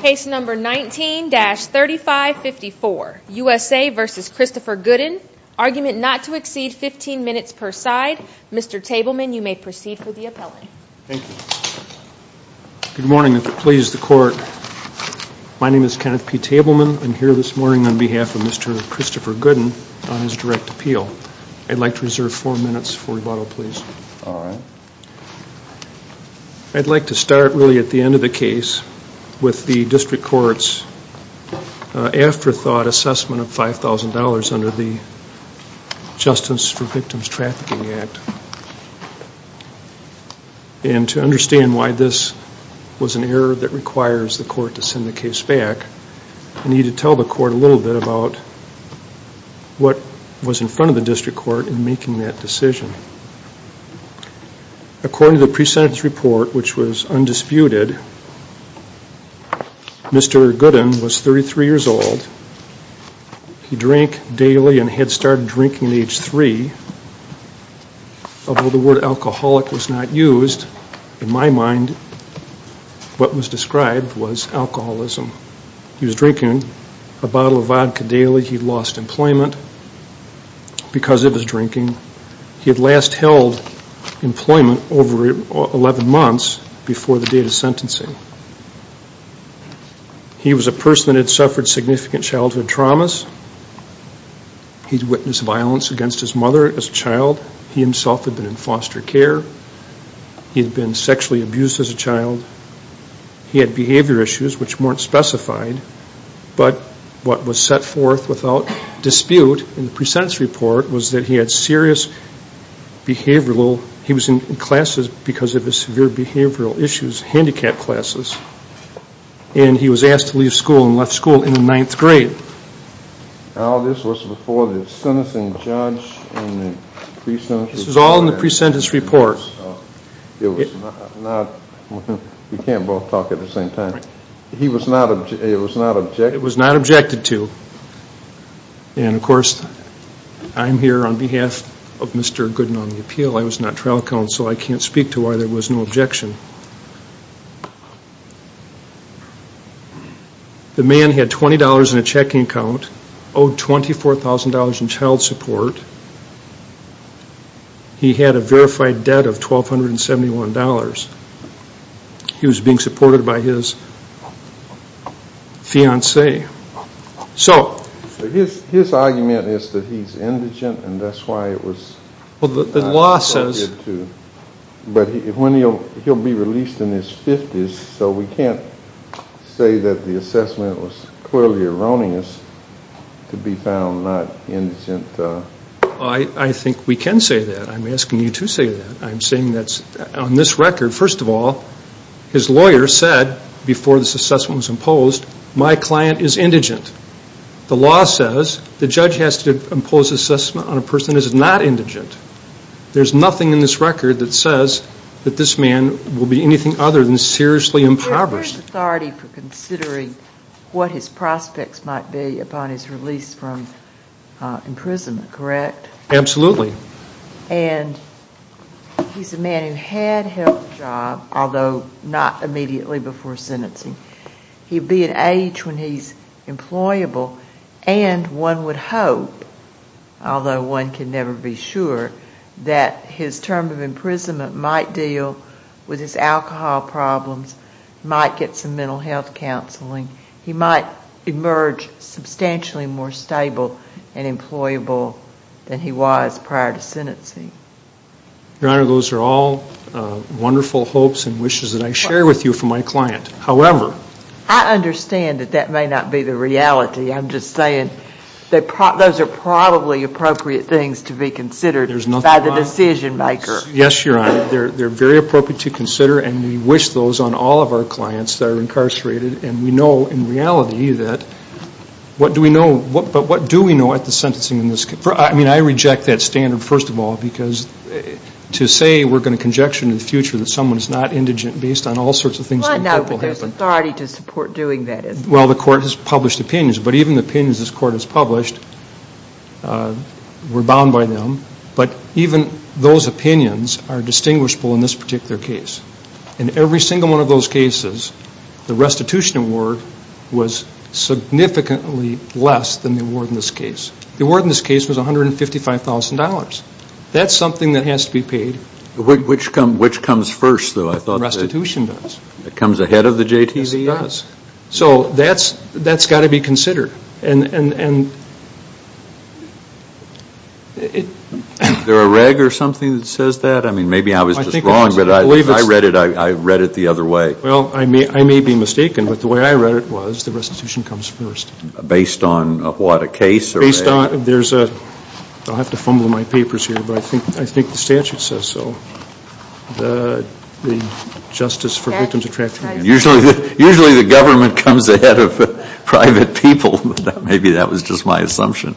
Case number 19-3554, USA v. Christopher Goodin. Argument not to exceed 15 minutes per side. Mr. Tableman, you may proceed for the appellate. Thank you. Good morning. If it pleases the court, my name is Kenneth P. Tableman. I'm here this morning on behalf of Mr. Christopher Goodin on his direct appeal. I'd like to reserve four minutes for rebuttal, please. All right. I'd like to start really at the end of the case with the district court's afterthought assessment of $5,000 under the Justice for Victims Trafficking Act. And to understand why this was an error that requires the court to send the case back, I need to tell the court a little bit about what was in front of the district court in making that decision. According to the pre-sentence report, which was undisputed, Mr. Goodin was 33 years old. He drank daily and had started drinking at age three. Although the word alcoholic was not used, in my mind what was described was alcoholism. He was drinking a bottle of vodka daily. He lost employment because of his drinking. He had last held employment over 11 months before the date of sentencing. He was a person that had suffered significant childhood traumas. He witnessed violence against his mother as a child. He himself had been in foster care. He had been sexually abused as a child. He had behavior issues which weren't specified. But what was set forth without dispute in the pre-sentence report was that he had serious behavioral he was in classes because of his severe behavioral issues, handicap classes. And he was asked to leave school and left school in the ninth grade. Now this was before the sentencing judge and the pre-sentence report. This was all in the pre-sentence report. It was not, we can't both talk at the same time. He was not, it was not objected. It was not objected to. And, of course, I'm here on behalf of Mr. Gooden on the appeal. I was not trial counsel. I can't speak to why there was no objection. The man had $20 in a checking account, owed $24,000 in child support. He had a verified debt of $1,271. He was being supported by his fiancée. So his argument is that he's indigent and that's why it was not objected to. Well, the law says. But when he'll be released in his 50s, so we can't say that the assessment was clearly erroneous to be found not indigent. I think we can say that. I'm asking you to say that. I'm saying that on this record, first of all, his lawyer said before this assessment was imposed, my client is indigent. The law says the judge has to impose assessment on a person who is not indigent. There's nothing in this record that says that this man will be anything other than seriously impoverished. There's authority for considering what his prospects might be upon his release from imprisonment, correct? Absolutely. And he's a man who had held a job, although not immediately before sentencing. He'd be at age when he's employable, and one would hope, although one can never be sure, that his term of imprisonment might deal with his alcohol problems, might get some mental health counseling. He might emerge substantially more stable and employable than he was prior to sentencing. Your Honor, those are all wonderful hopes and wishes that I share with you from my client. However, I understand that that may not be the reality. I'm just saying that those are probably appropriate things to be considered by the decision maker. Yes, Your Honor. They're very appropriate to consider, and we wish those on all of our clients that are incarcerated, and we know in reality that what do we know, but what do we know at the sentencing in this case? I mean, I reject that standard, first of all, because to say we're going to conjecture in the future that someone is not indigent based on all sorts of things. Well, no, but there's authority to support doing that, isn't there? Well, the Court has published opinions, but even the opinions this Court has published, we're bound by them, but even those opinions are distinguishable in this particular case. In every single one of those cases, the restitution award was significantly less than the award in this case. The award in this case was $155,000. That's something that has to be paid. Which comes first, though? Restitution does. It comes ahead of the JTDS. It does. So that's got to be considered. Is there a reg or something that says that? I mean, maybe I was just wrong, but if I read it, I read it the other way. Well, I may be mistaken, but the way I read it was the restitution comes first. Based on what, a case? Based on, there's a, I'll have to fumble my papers here, but I think the statute says so. The justice for victims of trafficking. Usually the government comes ahead of private people, but maybe that was just my assumption.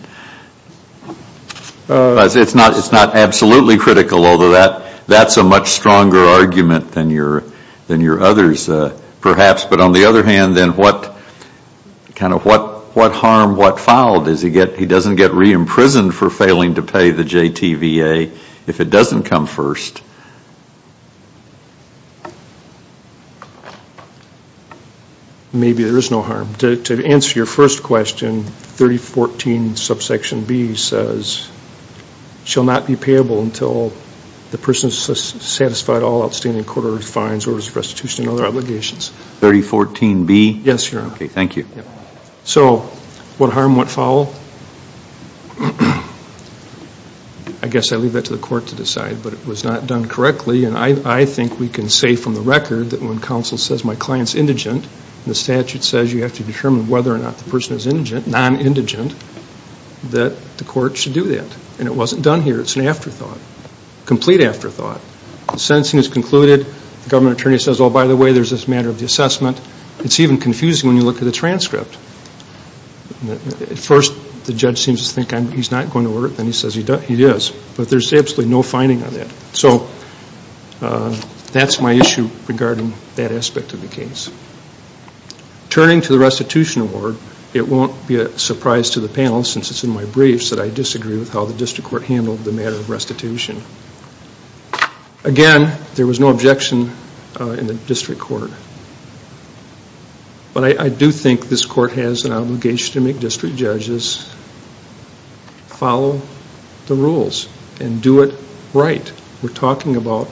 It's not absolutely critical, although that's a much stronger argument than your others, perhaps. But on the other hand, then what harm, what foul does he get? He doesn't get re-imprisoned for failing to pay the JTVA if it doesn't come first. Maybe there is no harm. To answer your first question, 3014 subsection B says, shall not be payable until the person is satisfied all outstanding court orders, fines, orders of restitution, and other obligations. 3014 B? Yes, Your Honor. Okay, thank you. So what harm, what foul? I guess I leave that to the court to decide, but it was not done correctly, and I think we can say from the record that when counsel says my client's indigent, and the statute says you have to determine whether or not the person is non-indigent, that the court should do that. And it wasn't done here. It's an afterthought, complete afterthought. The sentencing is concluded. The government attorney says, oh, by the way, there's this matter of the assessment. It's even confusing when you look at the transcript. At first the judge seems to think he's not going to order it. Then he says he is. But there's absolutely no fining on that. So that's my issue regarding that aspect of the case. Turning to the restitution award, it won't be a surprise to the panel since it's in my briefs that I disagree with how the district court handled the matter of restitution. Again, there was no objection in the district court. But I do think this court has an obligation to make district judges follow the rules and do it right. We're talking about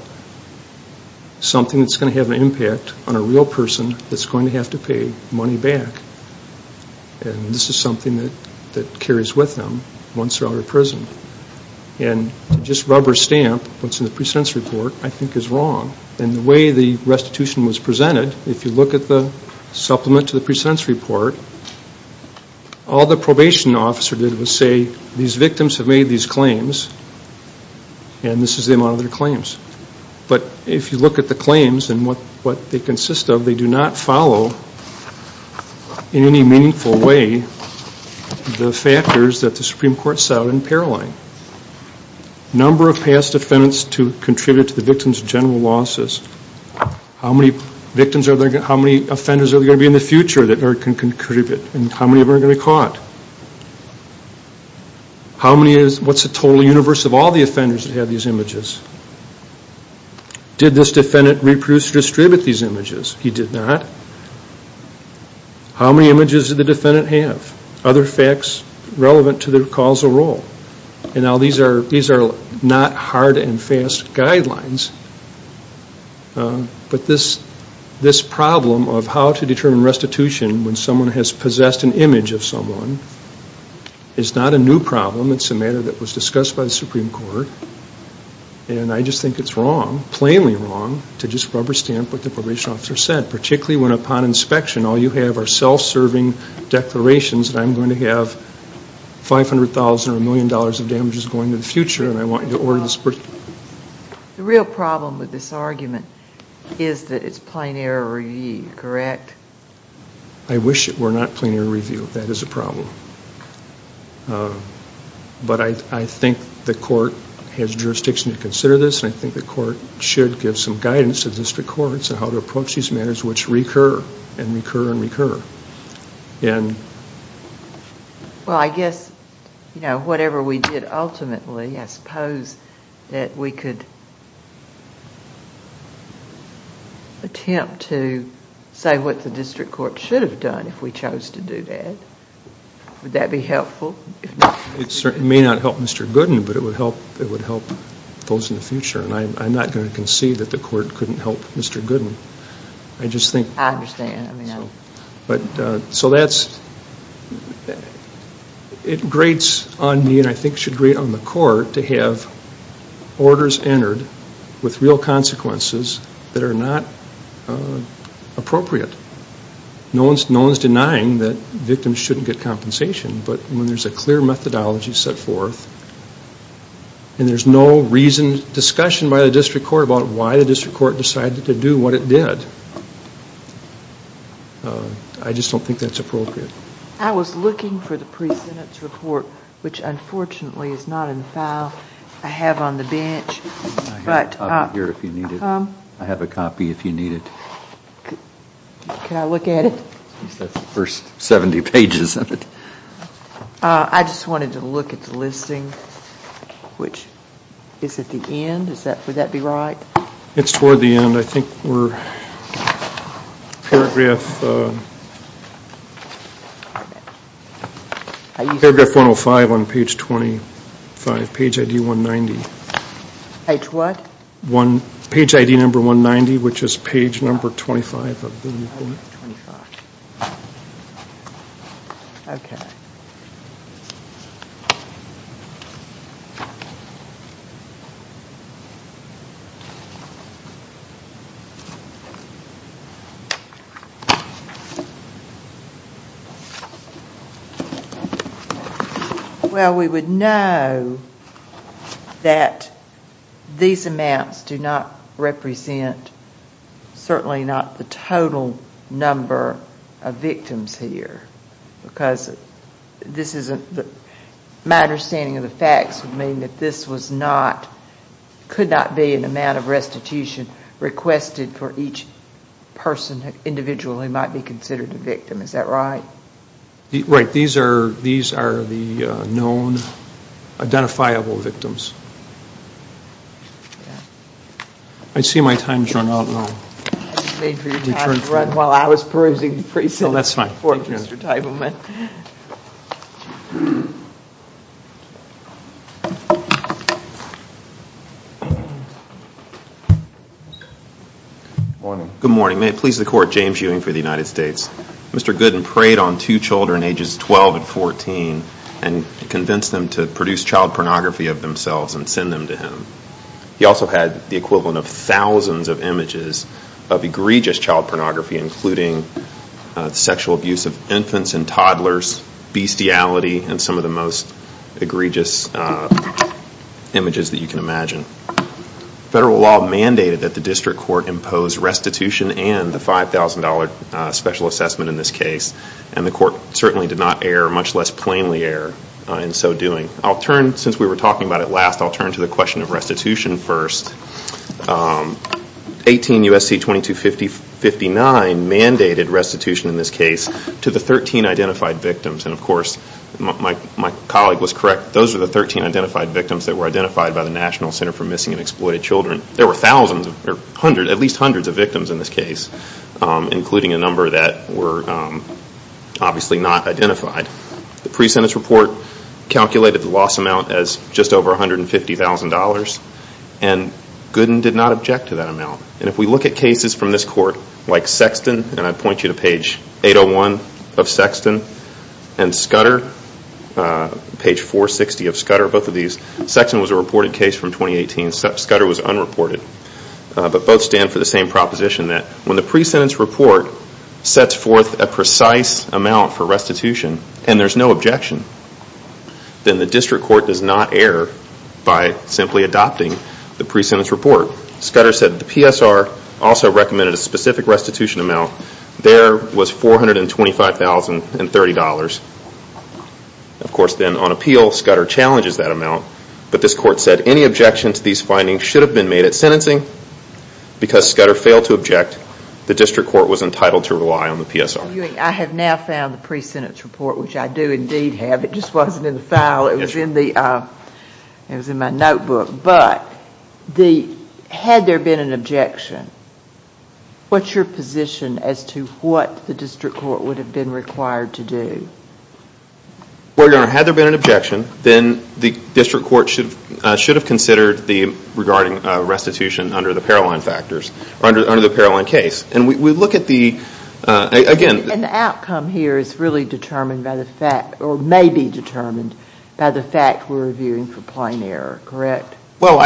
something that's going to have an impact on a real person that's going to have to pay money back. And this is something that carries with them once they're out of prison. And to just rubber stamp what's in the precedence report I think is wrong. And the way the restitution was presented, if you look at the supplement to the precedence report, all the probation officer did was say these victims have made these claims and this is the amount of their claims. But if you look at the claims and what they consist of, they do not follow in any meaningful way the factors that the Supreme Court set out in Paroline. Number of past offenders to contribute to the victim's general losses. How many offenders are there going to be in the future that can contribute and how many of them are going to be caught? What's the total universe of all the offenders that have these images? Did this defendant reproduce or distribute these images? He did not. How many images did the defendant have? Other facts relevant to their causal role? And now these are not hard and fast guidelines. But this problem of how to determine restitution when someone has possessed an image of someone is not a new problem. It's a matter that was discussed by the Supreme Court. And I just think it's wrong, plainly wrong, to just rubber stamp what the probation officer said, particularly when upon inspection all you have are self-serving declarations that I'm going to have $500,000 or $1 million of damages going to the future and I want you to order this person. The real problem with this argument is that it's plenary review, correct? I wish it were not plenary review. That is a problem. But I think the court has jurisdiction to consider this and I think the court should give some guidance to district courts on how to approach these matters which recur and recur and recur. Well, I guess, you know, whatever we did ultimately, I suppose that we could attempt to say what the district court should have done if we chose to do that. Would that be helpful? It may not help Mr. Gooden, but it would help those in the future. And I'm not going to concede that the court couldn't help Mr. Gooden. I understand. So that's, it grates on me and I think should grate on the court to have orders entered with real consequences that are not appropriate. No one's denying that victims shouldn't get compensation, but when there's a clear methodology set forth and there's no reason, discussion by the district court about why the district court decided to do what it did, I just don't think that's appropriate. I was looking for the pre-sentence report which unfortunately is not in the file I have on the bench. I have a copy here if you need it. I have a copy if you need it. Can I look at it? That's the first 70 pages of it. I just wanted to look at the listing which is at the end. Would that be right? It's toward the end. I think we're paragraph 105 on page 25, page ID 190. Page what? Page ID number 190 which is page number 25 of the report. Page number 25. Okay. Thank you. Well, we would know that these amounts do not represent, certainly not the total number of victims here because this isn't the, my understanding of the facts would mean that this was not, could not be an amount of restitution requested for each person individually might be considered a victim. Is that right? Right. These are the known identifiable victims. I see my time has run out now. I was waiting for your time to run while I was perusing the pre-sentence report, Mr. Teitelman. That's fine. Thank you. Good morning. Good morning. May it please the court, James Ewing for the United States. Mr. Gooden preyed on two children ages 12 and 14 and convinced them to produce child pornography of themselves and send them to him. He also had the equivalent of thousands of images of egregious child pornography, including sexual abuse of infants and toddlers, bestiality, and some of the most egregious images that you can imagine. Federal law mandated that the district court impose restitution and the $5,000 special assessment in this case, and the court certainly did not err, much less plainly err in so doing. I'll turn, since we were talking about it last, I'll turn to the question of restitution first. 18 U.S.C. 2259 mandated restitution in this case to the 13 identified victims, and of course my colleague was correct. Those are the 13 identified victims that were identified by the National Center for Missing and Exploited Children. There were thousands or at least hundreds of victims in this case, including a number that were obviously not identified. The pre-sentence report calculated the loss amount as just over $150,000, and Gooden did not object to that amount. And if we look at cases from this court, like Sexton, and I point you to page 801 of Sexton, and Scudder, page 460 of Scudder, both of these, Sexton was a reported case from 2018, Scudder was unreported, but both stand for the same proposition that when the pre-sentence report sets forth a precise amount for restitution and there's no objection, then the district court does not err by simply adopting the pre-sentence report. Scudder said the PSR also recommended a specific restitution amount. There was $425,030. Of course then on appeal, Scudder challenges that amount, but this court said any objection to these findings should have been made at sentencing. Because Scudder failed to object, the district court was entitled to rely on the PSR. Mr. Ewing, I have now found the pre-sentence report, which I do indeed have, it just wasn't in the file, it was in my notebook, but had there been an objection, what's your position as to what the district court would have been required to do? Well, Your Honor, had there been an objection, then the district court should have considered regarding restitution under the Paroline factors, or under the Paroline case. And the outcome here is really determined by the fact, or may be determined, by the fact we're reviewing for plain error, correct? Well,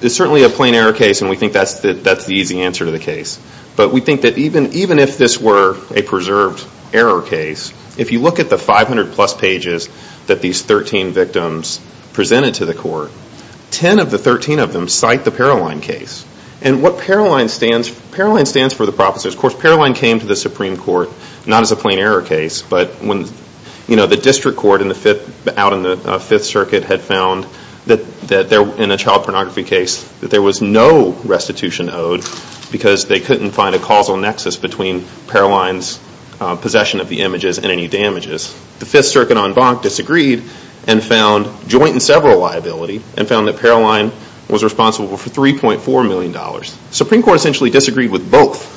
it's certainly a plain error case and we think that's the easy answer to the case. But we think that even if this were a preserved error case, if you look at the 500 plus pages that these 13 victims presented to the court, 10 of the 13 of them cite the Paroline case. And what Paroline stands for, Paroline stands for the professor. Of course, Paroline came to the Supreme Court not as a plain error case, but when the district court out in the Fifth Circuit had found that in a child pornography case, that there was no restitution owed because they couldn't find a causal nexus between Paroline's possession of the images and any damages. The Fifth Circuit en banc disagreed and found joint and several liability, and found that Paroline was responsible for $3.4 million. The Supreme Court essentially disagreed with both.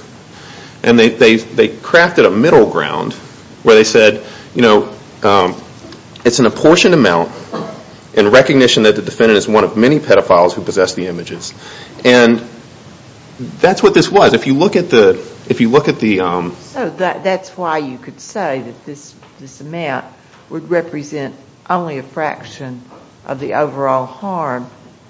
And they crafted a middle ground where they said, you know, it's an apportioned amount in recognition that the defendant is one of many pedophiles who possess the images. And that's what this was. If you look at the... So that's why you could say that this amount would represent only a fraction of the overall harm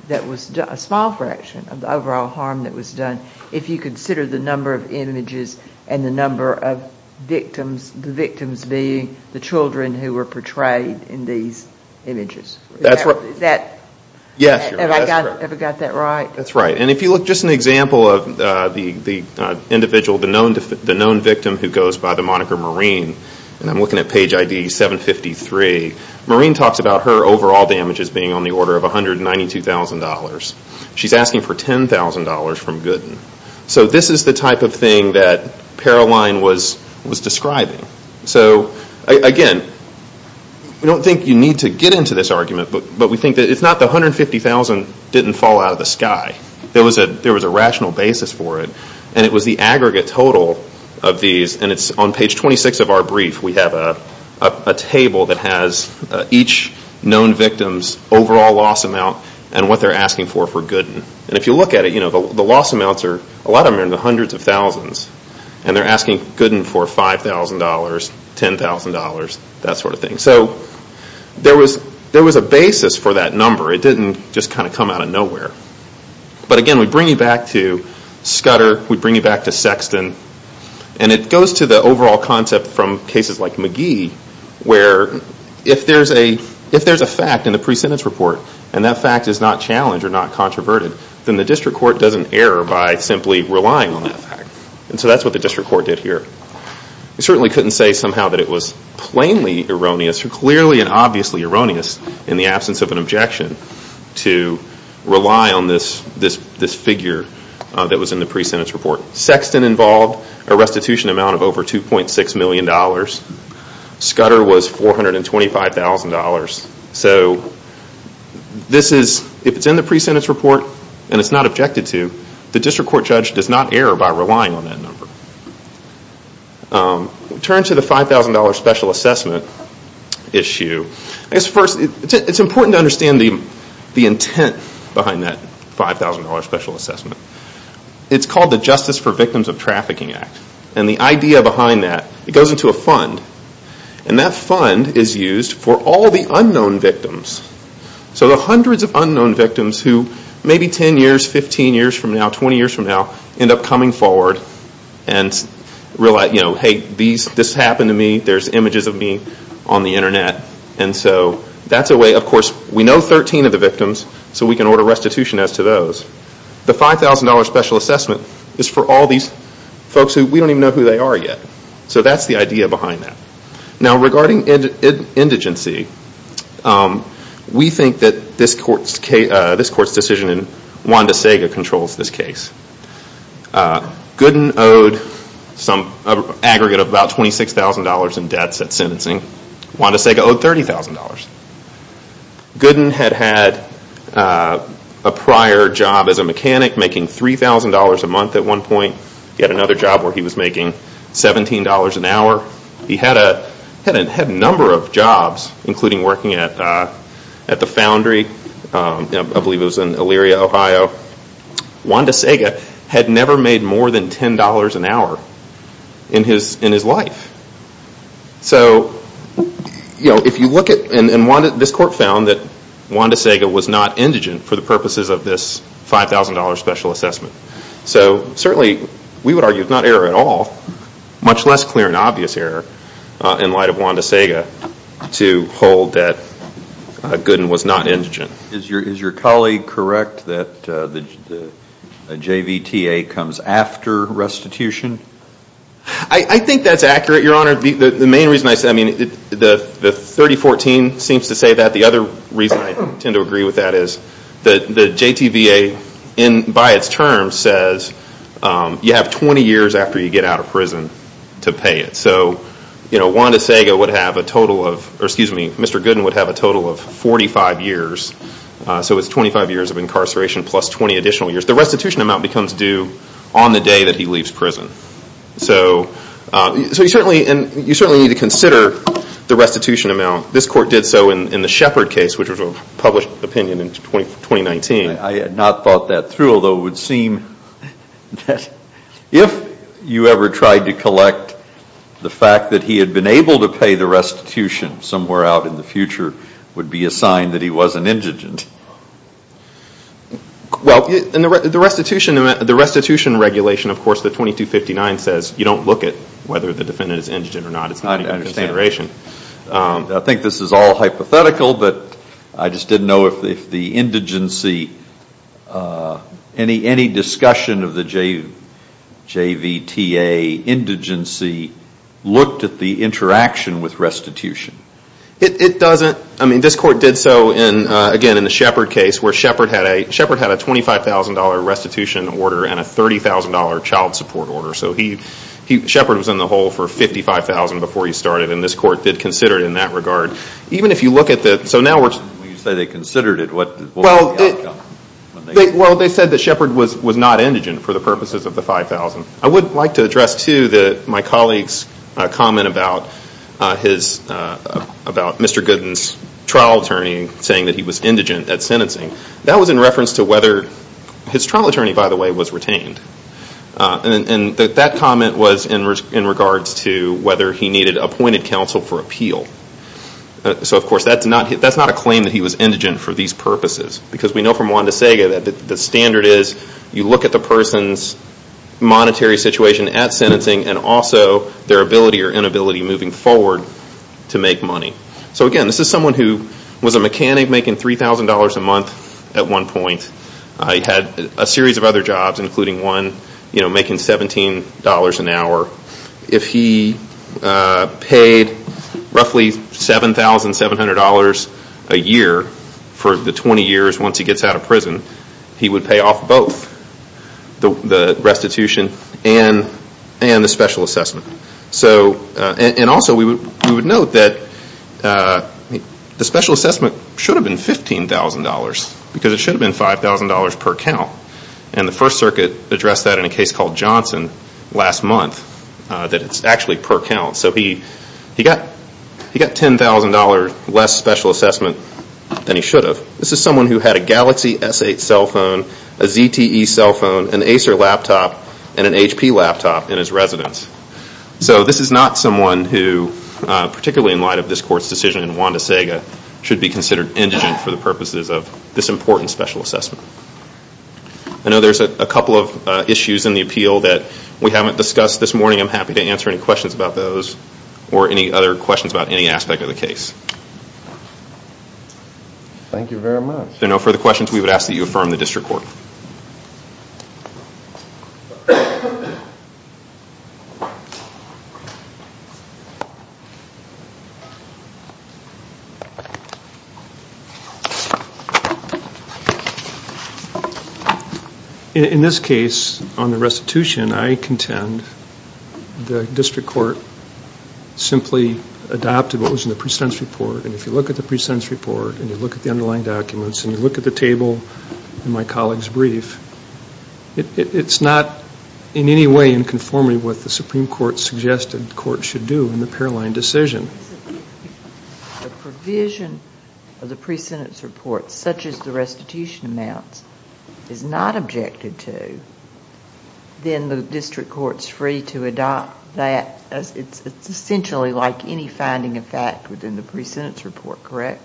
that was done, a small fraction of the overall harm that was done, if you consider the number of images and the number of victims, the victims being the children who were portrayed in these images. That's right. Is that... Yes. Have I got that right? That's right. And if you look at just an example of the individual, the known victim, who goes by the moniker Maureen, and I'm looking at page ID 753, Maureen talks about her overall damages being on the order of $192,000. She's asking for $10,000 from Gooden. So this is the type of thing that Paroline was describing. So, again, we don't think you need to get into this argument, but we think that it's not the $150,000 didn't fall out of the sky. There was a rational basis for it, and it was the aggregate total of these, and it's on page 26 of our brief. We have a table that has each known victim's overall loss amount and what they're asking for for Gooden. And if you look at it, the loss amounts are, a lot of them are in the hundreds of thousands, and they're asking Gooden for $5,000, $10,000, that sort of thing. So there was a basis for that number. It didn't just kind of come out of nowhere. But, again, we bring you back to Scudder, we bring you back to Sexton, and it goes to the overall concept from cases like McGee, where if there's a fact in the pre-sentence report, and that fact is not challenged or not controverted, then the district court doesn't err by simply relying on that fact. And so that's what the district court did here. We certainly couldn't say somehow that it was plainly erroneous, or clearly and obviously erroneous, in the absence of an objection, to rely on this figure that was in the pre-sentence report. Sexton involved a restitution amount of over $2.6 million. Scudder was $425,000. So if it's in the pre-sentence report and it's not objected to, the district court judge does not err by relying on that number. Turn to the $5,000 special assessment issue. First, it's important to understand the intent behind that $5,000 special assessment. It's called the Justice for Victims of Trafficking Act. And the idea behind that, it goes into a fund. And that fund is used for all the unknown victims. So the hundreds of unknown victims who maybe 10 years, 15 years from now, 20 years from now, end up coming forward and realize, hey, this happened to me, there's images of me on the internet. And so that's a way, of course, we know 13 of the victims, so we can order restitution as to those. The $5,000 special assessment is for all these folks who we don't even know who they are yet. So that's the idea behind that. Now regarding indigency, we think that this court's decision in WandaSega controls this case. Gooden owed an aggregate of about $26,000 in debts at sentencing. WandaSega owed $30,000. Gooden had had a prior job as a mechanic making $3,000 a month at one point. He had another job where he was making $17 an hour. He had a number of jobs, including working at the foundry, I believe it was in Elyria, Ohio. WandaSega had never made more than $10 an hour in his life. So if you look at, and this court found that WandaSega was not indigent for the purposes of this $5,000 special assessment. So certainly we would argue it's not error at all, much less clear and obvious error in light of WandaSega to hold that Gooden was not indigent. Is your colleague correct that the JVTA comes after restitution? I think that's accurate, Your Honor. The main reason I say, I mean, the 3014 seems to say that. The other reason I tend to agree with that is the JTVA by its terms says you have 20 years after you get out of prison to pay it. So WandaSega would have a total of, or excuse me, Mr. Gooden would have a total of 45 years. So it's 25 years of incarceration plus 20 additional years. The restitution amount becomes due on the day that he leaves prison. So you certainly need to consider the restitution amount. This court did so in the Shepard case, which was a published opinion in 2019. I had not thought that through, although it would seem that if you ever tried to collect the fact that he had been able to pay the restitution somewhere out in the future would be a sign that he wasn't indigent. Well, the restitution regulation, of course, the 2259 says you don't look at whether the defendant is indigent or not. I think this is all hypothetical, but I just didn't know if the indigency, any discussion of the JVTA indigency looked at the interaction with restitution. It doesn't. I mean, this court did so, again, in the Shepard case, where Shepard had a $25,000 restitution order and a $30,000 child support order. So Shepard was in the hole for $55,000 before he started, and this court did consider it in that regard. Even if you look at the, so now we're... When you say they considered it, what was the outcome? Well, they said that Shepard was not indigent for the purposes of the $5,000. I would like to address, too, my colleague's comment about Mr. Gooden's trial attorney saying that he was indigent at sentencing. That was in reference to whether his trial attorney, by the way, was retained. And that comment was in regards to whether he needed appointed counsel for appeal. So, of course, that's not a claim that he was indigent for these purposes, because we know from Juan de Sega that the standard is you look at the person's monetary situation at sentencing and also their ability or inability moving forward to make money. So, again, this is someone who was a mechanic making $3,000 a month at one point. He had a series of other jobs, including one making $17 an hour. If he paid roughly $7,700 a year for the 20 years once he gets out of prison, he would pay off both the restitution and the special assessment. And also we would note that the special assessment should have been $15,000, because it should have been $5,000 per count. And the First Circuit addressed that in a case called Johnson last month, that it's actually per count. So he got $10,000 less special assessment than he should have. This is someone who had a Galaxy S8 cell phone, a ZTE cell phone, an Acer laptop, and an HP laptop in his residence. So this is not someone who, particularly in light of this court's decision in Juan de Sega, should be considered indigent for the purposes of this important special assessment. I know there's a couple of issues in the appeal that we haven't discussed this morning. I'm happy to answer any questions about those or any other questions about any aspect of the case. Thank you very much. If there are no further questions, we would ask that you affirm the district court. In this case, on the restitution, I contend the district court simply adopted what was in the pre-sentence report. And if you look at the pre-sentence report and you look at the underlying documents and you look at the table in my colleague's brief, it's not in any way in conformity with what the Supreme Court suggested the court should do in the Paroline decision. If the provision of the pre-sentence report, such as the restitution amounts, is not objected to, then the district court's free to adopt that. It's essentially like any finding of fact within the pre-sentence report, correct?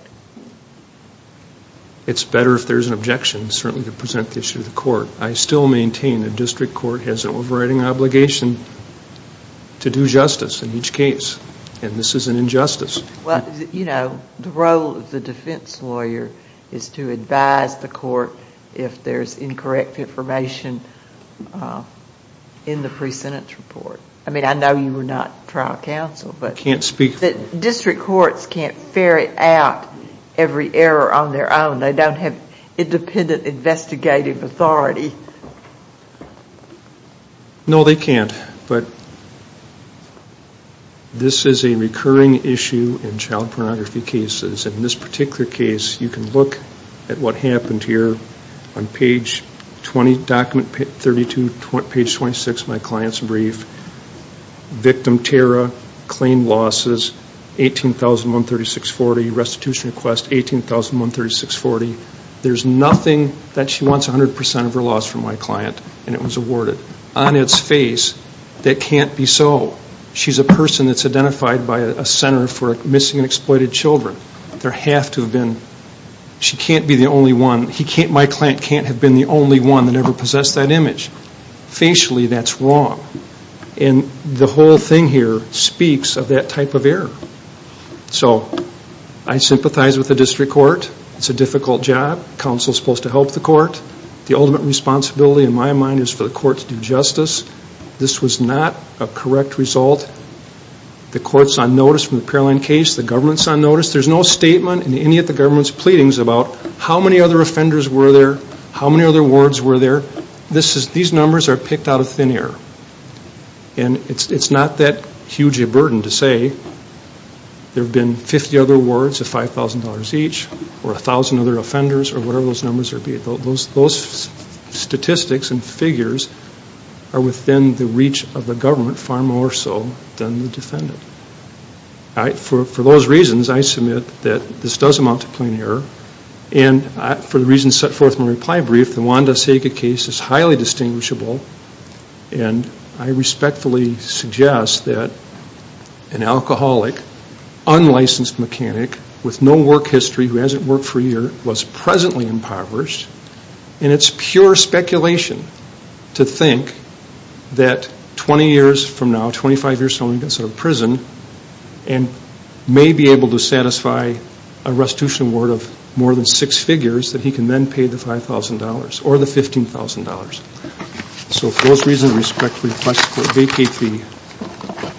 It's better if there's an objection, certainly, to present the issue to the court. I still maintain the district court has an overriding obligation to do justice in each case, and this is an injustice. Well, you know, the role of the defense lawyer is to advise the court if there's incorrect information in the pre-sentence report. I mean, I know you were not trial counsel, but district courts can't ferret out every error on their own. They don't have independent investigative authority. No, they can't. But this is a recurring issue in child pornography cases. In this particular case, you can look at what happened here on page 20, document 32, page 26 of my client's brief. Victim, Tara, claimed losses, 18,136.40, restitution request, 18,136.40. There's nothing that she wants 100% of her loss from my client, and it was awarded. On its face, that can't be so. She's a person that's identified by a Center for Missing and Exploited Children. There have to have been. She can't be the only one. My client can't have been the only one that ever possessed that image. Facially, that's wrong. And the whole thing here speaks of that type of error. So I sympathize with the district court. It's a difficult job. Counsel's supposed to help the court. The ultimate responsibility, in my mind, is for the court to do justice. This was not a correct result. The court's on notice from the Paroline case. The government's on notice. There's no statement in any of the government's pleadings about how many other offenders were there, how many other wards were there. These numbers are picked out of thin air. And it's not that huge a burden to say. There have been 50 other wards of $5,000 each or 1,000 other offenders or whatever those numbers are. Those statistics and figures are within the reach of the government far more so than the defendant. For those reasons, I submit that this does amount to plain error. And for the reasons set forth in my reply brief, the Wanda Saga case is highly distinguishable. And I respectfully suggest that an alcoholic, unlicensed mechanic with no work history, who hasn't worked for a year, was presently impoverished. And it's pure speculation to think that 20 years from now, 25 years from now, he gets out of prison and may be able to satisfy a restitution award of more than six figures that he can then pay the $5,000 or the $15,000. So for those reasons, I respectfully request the court vacate the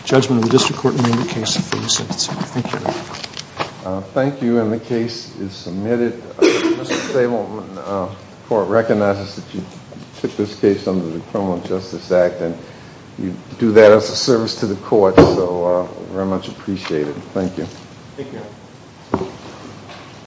judgment of the district court amendment case for this instance. Thank you. Thank you. And the case is submitted. Mr. Stableman, the court recognizes that you took this case under the Criminal Justice Act and you do that as a service to the court, so we very much appreciate it. Thank you. Thank you.